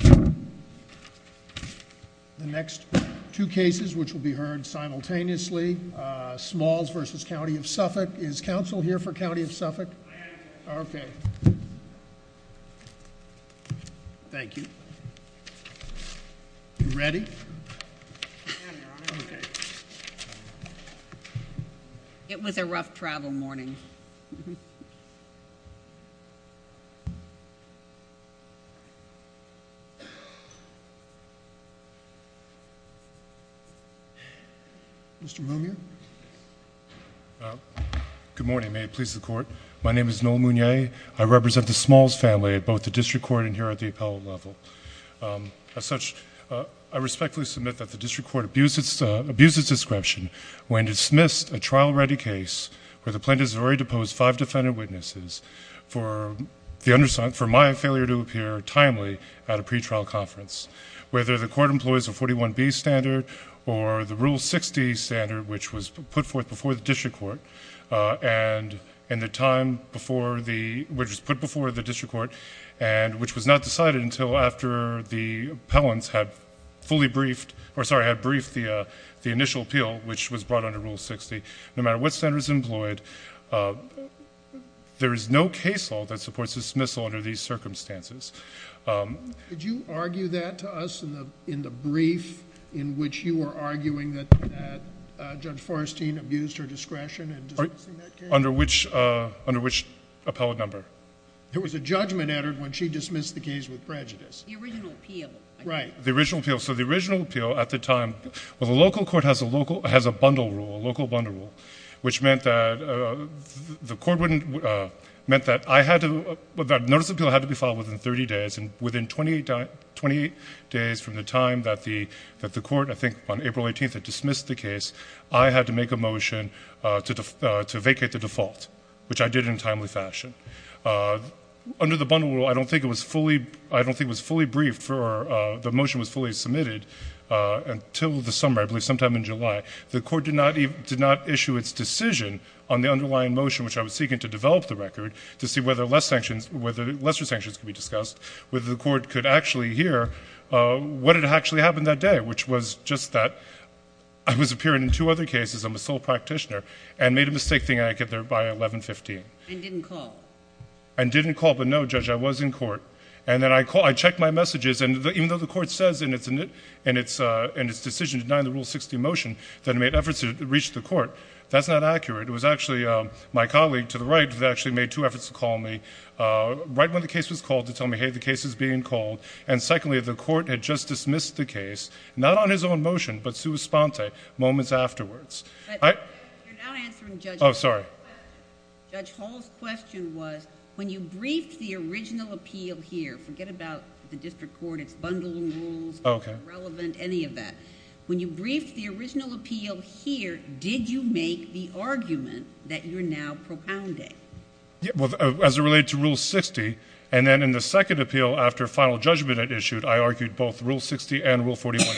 The next two cases, which will be heard simultaneously, Smalls v. County of Suffolk. Is counsel here for County of Suffolk? I am. Okay. Thank you. You ready? I am, Your Honor. Okay. It was a rough travel morning. Mr. Monier? Good morning. May it please the Court. My name is Noel Monier. I represent the Smalls family at both the district court and here at the appellate level. As such, I respectfully submit that the district court abused its description when it dismissed a trial-ready case where the plaintiff has already deposed five defendant witnesses for my failure to appear timely at a pretrial conference. Whether the court employs a 41B standard or the Rule 60 standard, which was put forth before the district court and which was not decided until after the appellants had briefed the plaintiff, no matter what standard is employed, there is no case law that supports dismissal under these circumstances. Did you argue that to us in the brief in which you were arguing that Judge Forestine abused her discretion in dismissing that case? Under which appellate number? There was a judgment entered when she dismissed the case with prejudice. The original appeal. Right. The original appeal. The original appeal at the time. Well, the local court has a bundle rule, a local bundle rule, which meant that the court wouldn't – meant that I had to – that notice of appeal had to be filed within 30 days. And within 28 days from the time that the court, I think on April 18th, had dismissed the case, I had to make a motion to vacate the default, which I did in a timely fashion. Under the bundle rule, I don't think it was fully – I don't think it was fully submitted until the summer, I believe sometime in July. The court did not issue its decision on the underlying motion, which I was seeking to develop the record to see whether less sanctions – whether lesser sanctions could be discussed, whether the court could actually hear what had actually happened that day, which was just that I was appearing in two other cases, I'm a sole practitioner, and made a mistake thinking I'd get there by 1115. And didn't call. And didn't call. But no, Judge, I was in court. And then I checked my messages, and even though the court says in its decision denying the Rule 60 motion that it made efforts to reach the court, that's not accurate. It was actually my colleague to the right that actually made two efforts to call me right when the case was called to tell me, hey, the case is being called. And secondly, the court had just dismissed the case, not on his own motion, but sua sponte, moments afterwards. But you're not answering Judge Hall's question. Oh, sorry. Judge Hall's question was, when you briefed the original appeal here – forget about the district court, its bundling rules, irrelevant, any of that. When you briefed the original appeal here, did you make the argument that you're now propounding? Well, as it related to Rule 60, and then in the second appeal after final judgment it issued, I argued both Rule 60 and Rule 41.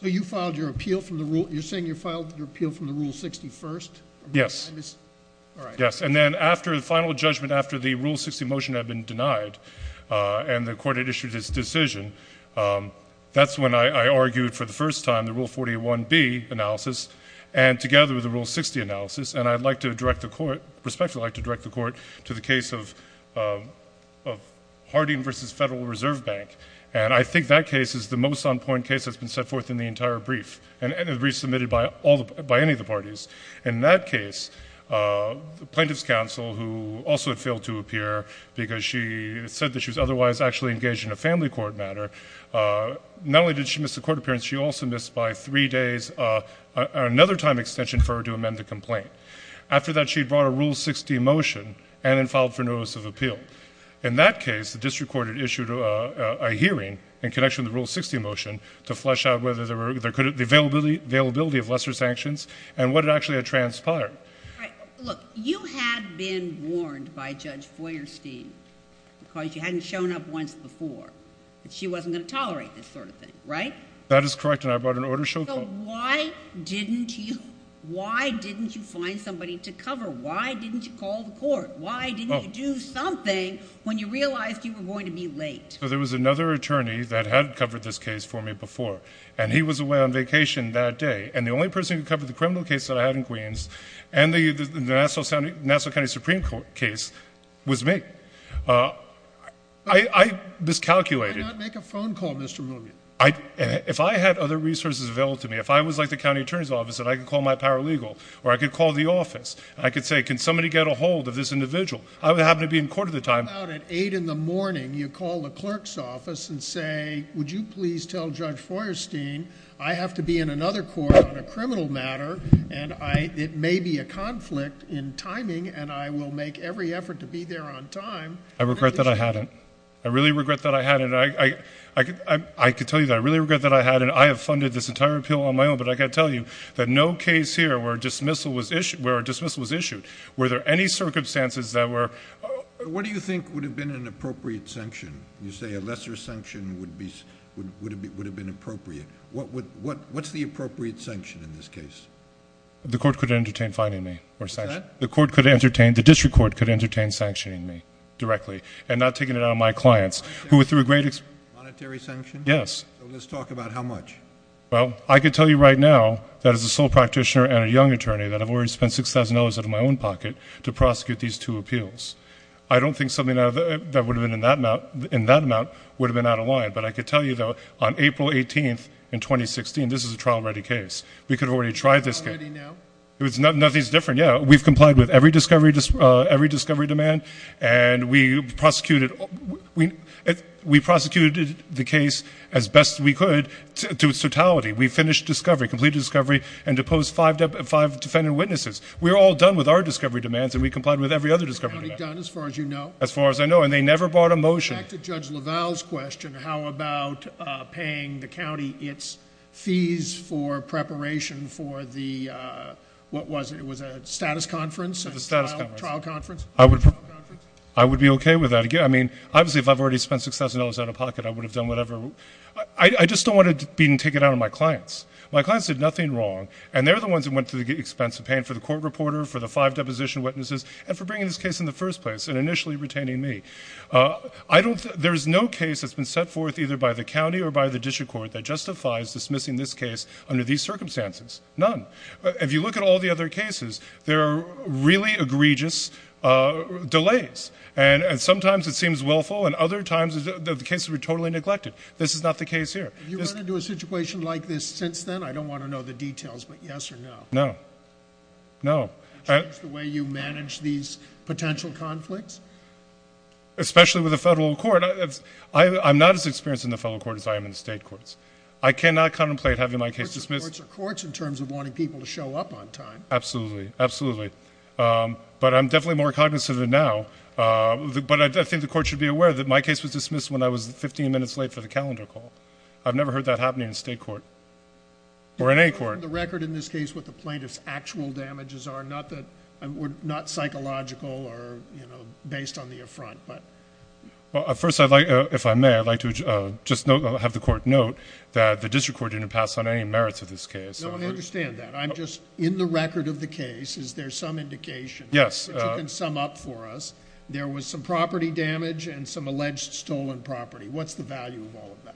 So you filed your appeal from the Rule – you're saying you filed your appeal from the Rule 41? Yes. All right. Yes. And then after the final judgment, after the Rule 60 motion had been denied, and the court had issued its decision, that's when I argued for the first time the Rule 41B analysis, and together with the Rule 60 analysis. And I'd like to direct the court – I'd respectfully like to direct the court to the case of Harding v. Federal Reserve Bank. And I think that case is the most on-point case that's been set forth in the entire brief, and the brief submitted by any of the parties. In that case, the plaintiff's counsel, who also had failed to appear because she said that she was otherwise actually engaged in a family court matter, not only did she miss the court appearance, she also missed by three days another time extension for her to amend the complaint. After that, she brought a Rule 60 motion and then filed for notice of appeal. In that case, the district court had issued a hearing in connection with the Rule 60 motion to flesh out whether there could – the availability of lesser sanctions and what it actually had transpired. Right. Look, you had been warned by Judge Feuerstein, because you hadn't shown up once before, that she wasn't going to tolerate this sort of thing, right? That is correct, and I brought an order to show – So why didn't you – why didn't you find somebody to cover? Why didn't you call the court? Why didn't you do something when you realized you were going to be late? Well, there was another attorney that had covered this case for me before, and he was away on vacation that day, and the only person who covered the criminal case that I had in Queens and the Nassau County Supreme Court case was me. I miscalculated. Why not make a phone call, Mr. Mooney? If I had other resources available to me, if I was like the county attorney's office and I could call my paralegal or I could call the office, I could say, can somebody get a hold of this individual? I would happen to be in court at the time. What about at 8 in the morning, you call the clerk's office and say, would you please tell Judge Feuerstein I have to be in another court on a criminal matter, and it may be a conflict in timing, and I will make every effort to be there on time? I regret that I hadn't. I really regret that I hadn't. I could tell you that I really regret that I hadn't. I have funded this entire appeal on my own, but I've got to tell you that no case here where a dismissal was issued, were there any circumstances that were – What do you think would have been an appropriate sanction? You say a lesser sanction would have been appropriate. What's the appropriate sanction in this case? The court could entertain fining me. The court could entertain – the district court could entertain sanctioning me directly and not taking it out on my clients. Monetary sanction? Yes. So let's talk about how much. Well, I could tell you right now that as a sole practitioner and a young attorney that I've already spent $6,000 out of my own pocket to prosecute these two appeals. I don't think something that would have been in that amount would have been out of line, but I could tell you, though, on April 18th in 2016, this is a trial-ready case. We could have already tried this case. It's trial-ready now? Nothing's different, yeah. We've complied with every discovery demand, and we prosecuted the case as best we could to its totality. We finished discovery, completed discovery, and deposed five defendant witnesses. We're all done with our discovery demands, and we complied with every other discovery demand. Is the county done as far as you know? As far as I know, and they never brought a motion. Back to Judge LaValle's question, how about paying the county its fees for preparation for the – what was it? It was a status conference? It was a status conference. A trial conference? A trial conference? I would be okay with that. I mean, obviously, if I've already spent $6,000 out of pocket, I would have done whatever – I just don't want it being taken out on my clients. My clients did nothing wrong, and they're the ones who went to the expense of paying for the court reporter, for the five deposition witnesses, and for bringing this case in the first place and initially retaining me. I don't – there is no case that's been set forth either by the county or by the district court that justifies dismissing this case under these circumstances. None. If you look at all the other cases, there are really egregious delays, and sometimes it seems willful, and other times the cases are totally neglected. This is not the case here. Have you run into a situation like this since then? I don't want to know the details, but yes or no? No. No. Have you changed the way you manage these potential conflicts? Especially with the federal court. I'm not as experienced in the federal court as I am in the state courts. I cannot contemplate having my case dismissed. The courts are courts in terms of wanting people to show up on time. Absolutely. Absolutely. But I'm definitely more cognizant of it now. But I think the court should be aware that my case was dismissed when I was 15 minutes late for the calendar call. I've never heard that happening in state court or in any court. Do you have a record in this case what the plaintiff's actual damages are? Not psychological or based on the affront. Well, first, if I may, I'd like to just have the court note that the district court didn't pass on any merits of this case. No, I understand that. I'm just – in the record of the case, is there some indication – Yes. You can sum up for us. There was some property damage and some alleged stolen property. What's the value of all of that?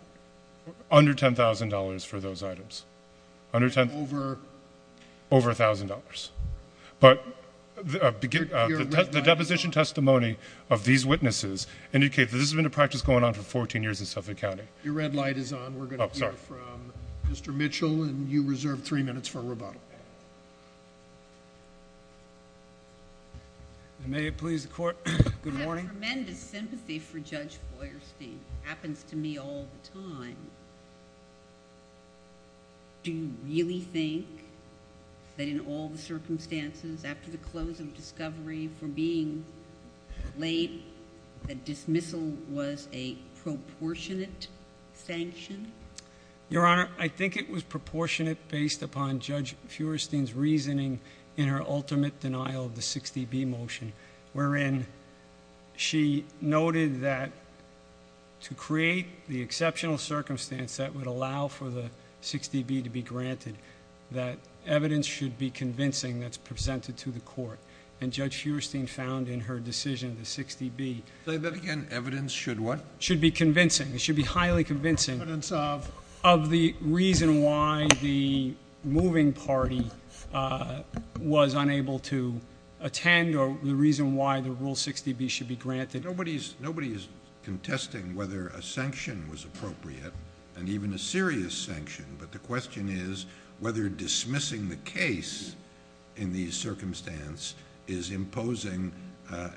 Under $10,000 for those items. Over? Over $1,000. But the deposition testimony of these witnesses indicates that this has been a practice going on for 14 years in Suffolk County. Your red light is on. We're going to hear from Mr. Mitchell, and you reserve three minutes for rebuttal. May it please the court. Good morning. I have tremendous sympathy for Judge Feuerstein. It happens to me all the time. Do you really think that in all the circumstances, after the close of discovery, for being late, that dismissal was a proportionate sanction? Your Honor, I think it was proportionate based upon Judge Feuerstein's reasoning in her ultimate denial of the 60B motion, wherein she noted that to create the exceptional circumstance that would allow for the 60B to be granted, that evidence should be convincing that's presented to the court. And Judge Feuerstein found in her decision, the 60B— Say that again. Evidence should what? Should be convincing. It should be highly convincing of the reason why the moving party was unable to attend or the reason why the Rule 60B should be granted. Nobody is contesting whether a sanction was appropriate and even a serious sanction, but the question is whether dismissing the case in these circumstances is imposing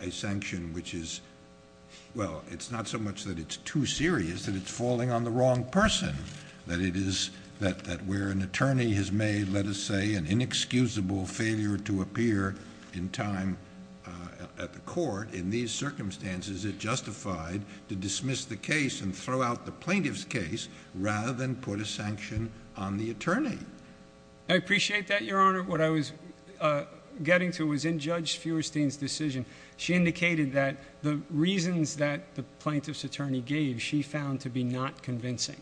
a sanction which is—well, it's not so much that it's too serious, that it's falling on the wrong person. That it is—that where an attorney has made, let us say, an inexcusable failure to appear in time at the court, in these circumstances, it justified to dismiss the case and throw out the plaintiff's case rather than put a sanction on the attorney. I appreciate that, Your Honor. What I was getting to was in Judge Feuerstein's decision. She indicated that the reasons that the plaintiff's attorney gave, she found to be not convincing.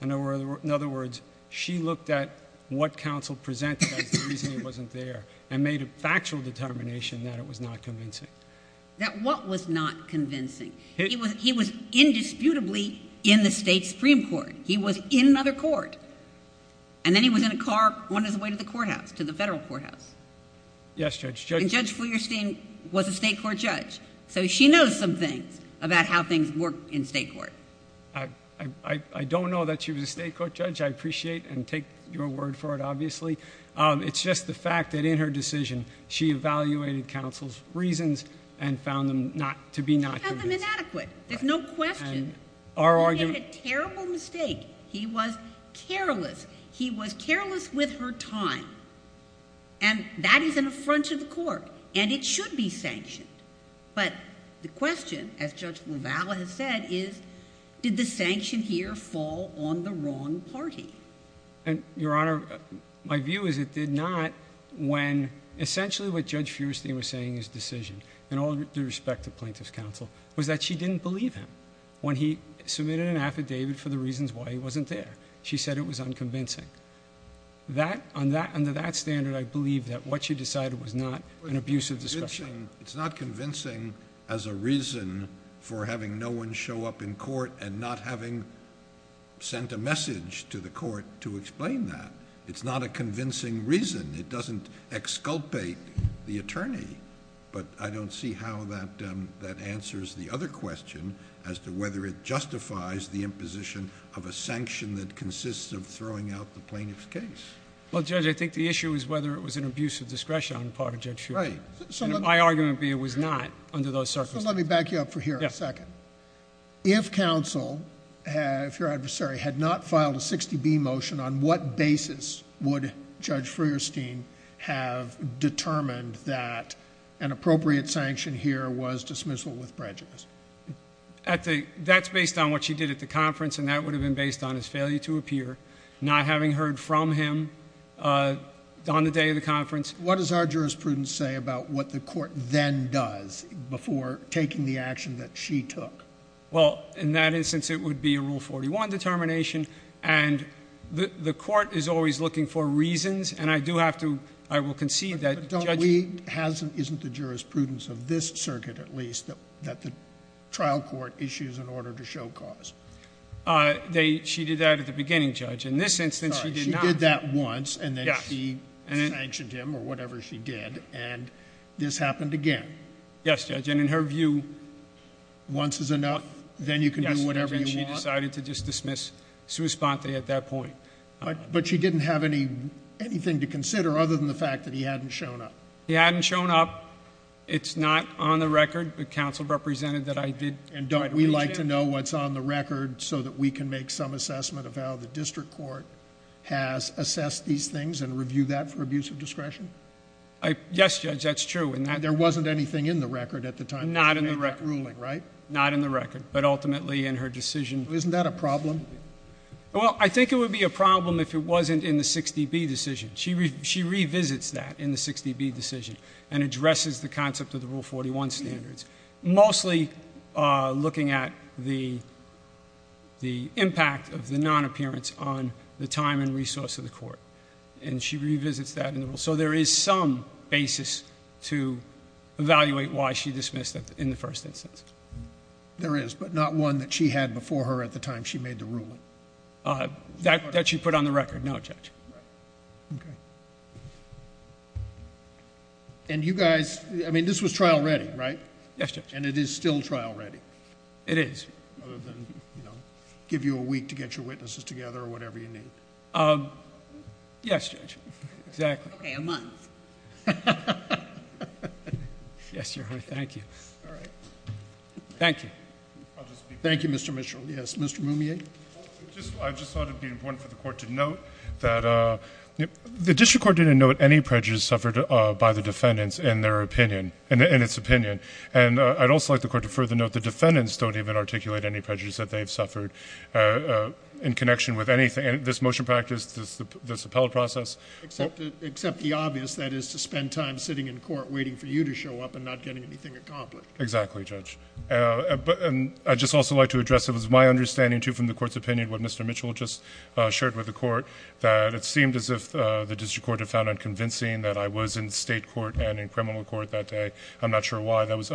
In other words, she looked at what counsel presented as the reason it wasn't there and made a factual determination that it was not convincing. That what was not convincing? He was indisputably in the state Supreme Court. He was in another court. And then he was in a car on his way to the courthouse, to the federal courthouse. Yes, Judge. And Judge Feuerstein was a state court judge, so she knows some things about how things work in state court. I don't know that she was a state court judge. I appreciate and take your word for it, obviously. It's just the fact that in her decision, she evaluated counsel's reasons and found them to be not convincing. She found them inadequate. There's no question. And our argument— He made a terrible mistake. He was careless. He was careless with her time. And that is an affront to the court, and it should be sanctioned. But the question, as Judge LaValle has said, is did the sanction here fall on the wrong party? Your Honor, my view is it did not when essentially what Judge Feuerstein was saying in his decision, in all due respect to plaintiff's counsel, was that she didn't believe him. When he submitted an affidavit for the reasons why he wasn't there, she said it was unconvincing. Under that standard, I believe that what she decided was not an abusive discussion. It's not convincing as a reason for having no one show up in court and not having sent a message to the court to explain that. It's not a convincing reason. It doesn't exculpate the attorney. But I don't see how that answers the other question as to whether it justifies the imposition of a sanction that consists of throwing out the plaintiff's case. Well, Judge, I think the issue is whether it was an abuse of discretion on the part of Judge Feuerstein. And my argument would be it was not under those circumstances. So let me back you up for here a second. If counsel, if your adversary, had not filed a 60B motion, on what basis would Judge Feuerstein have determined that an appropriate sanction here was dismissal with prejudice? That's based on what she did at the conference, and that would have been based on his failure to appear, not having heard from him on the day of the conference. What does our jurisprudence say about what the court then does before taking the action that she took? Well, in that instance, it would be a Rule 41 determination. And the court is always looking for reasons. And I do have to – I will concede that Judge – But don't we – isn't the jurisprudence of this circuit, at least, that the trial court issues an order to show cause? She did that at the beginning, Judge. In this instance, she did not. Yes. And then she sanctioned him, or whatever she did. And this happened again. Yes, Judge. And in her view – Then you can do whatever you want. Yes, Judge. And she decided to just dismiss sua sponte at that point. But she didn't have anything to consider other than the fact that he hadn't shown up. He hadn't shown up. It's not on the record. But counsel represented that I did – And don't we like to know what's on the record so that we can make some assessment of how the district court has assessed these things and reviewed that for abuse of discretion? Yes, Judge. That's true. And there wasn't anything in the record at the time? Not in the record. Not in that ruling, right? Not in the record. But ultimately, in her decision – Isn't that a problem? Well, I think it would be a problem if it wasn't in the 60B decision. She revisits that in the 60B decision and addresses the concept of the Rule 41 standards. Mostly looking at the impact of the non-appearance on the time and resource of the court. And she revisits that in the rule. So there is some basis to evaluate why she dismissed it in the first instance. There is, but not one that she had before her at the time she made the ruling. That she put on the record? No, Judge. Okay. And you guys – I mean, this was trial ready, right? Yes, Judge. And it is still trial ready? It is. Other than, you know, give you a week to get your witnesses together or whatever you need. Yes, Judge. Exactly. Okay. A month. Yes, Your Honor. Thank you. All right. Thank you. Thank you, Mr. Mitchell. Yes, Mr. Mumier? I just thought it would be important for the Court to note that the district court didn't note any prejudice suffered by the defendants in their opinion – in its opinion. And I'd also like the Court to further note the defendants don't even articulate any prejudice that they've suffered in connection with anything – this motion practice, this appellate process. Except the obvious. That is, to spend time sitting in court waiting for you to show up and not getting anything accomplished. Exactly, Judge. And I'd just also like to address it was my understanding, too, from the Court's opinion, what Mr. Mitchell just shared with the Court, that it seemed as if the district court had found unconvincing that I was in state court and in criminal court that day. I'm not sure why. That was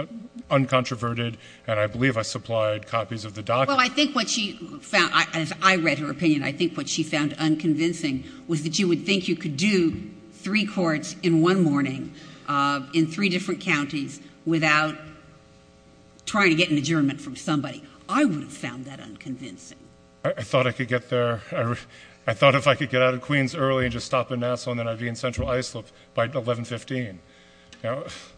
uncontroverted, and I believe I supplied copies of the documents. Well, I think what she found – as I read her opinion, I think what she found unconvincing was that you would think you could do three courts in one morning in three different counties without trying to get an adjournment from somebody. I would have found that unconvincing. I thought I could get there – I thought if I could get out of Queens early and just stop in Nassau and then I'd be in Central Islip by 11.15.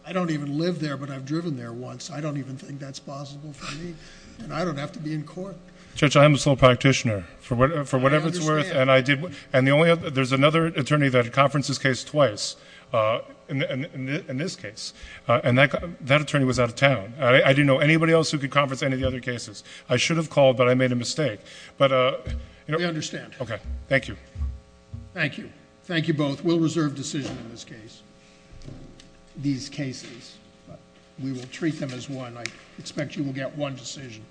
I don't even live there, but I've driven there once. I don't even think that's possible for me. And I don't have to be in court. Judge, I am a sole practitioner, for whatever it's worth. I understand. And I did – and the only other – there's another attorney that had conferenced this case twice in this case, and that attorney was out of town. I didn't know anybody else who could conference any of the other cases. I should have called, but I made a mistake. We understand. Okay. Thank you. Thank you. Thank you both. We'll reserve decision in this case – these cases. But we will treat them as one. I expect you will get one decision.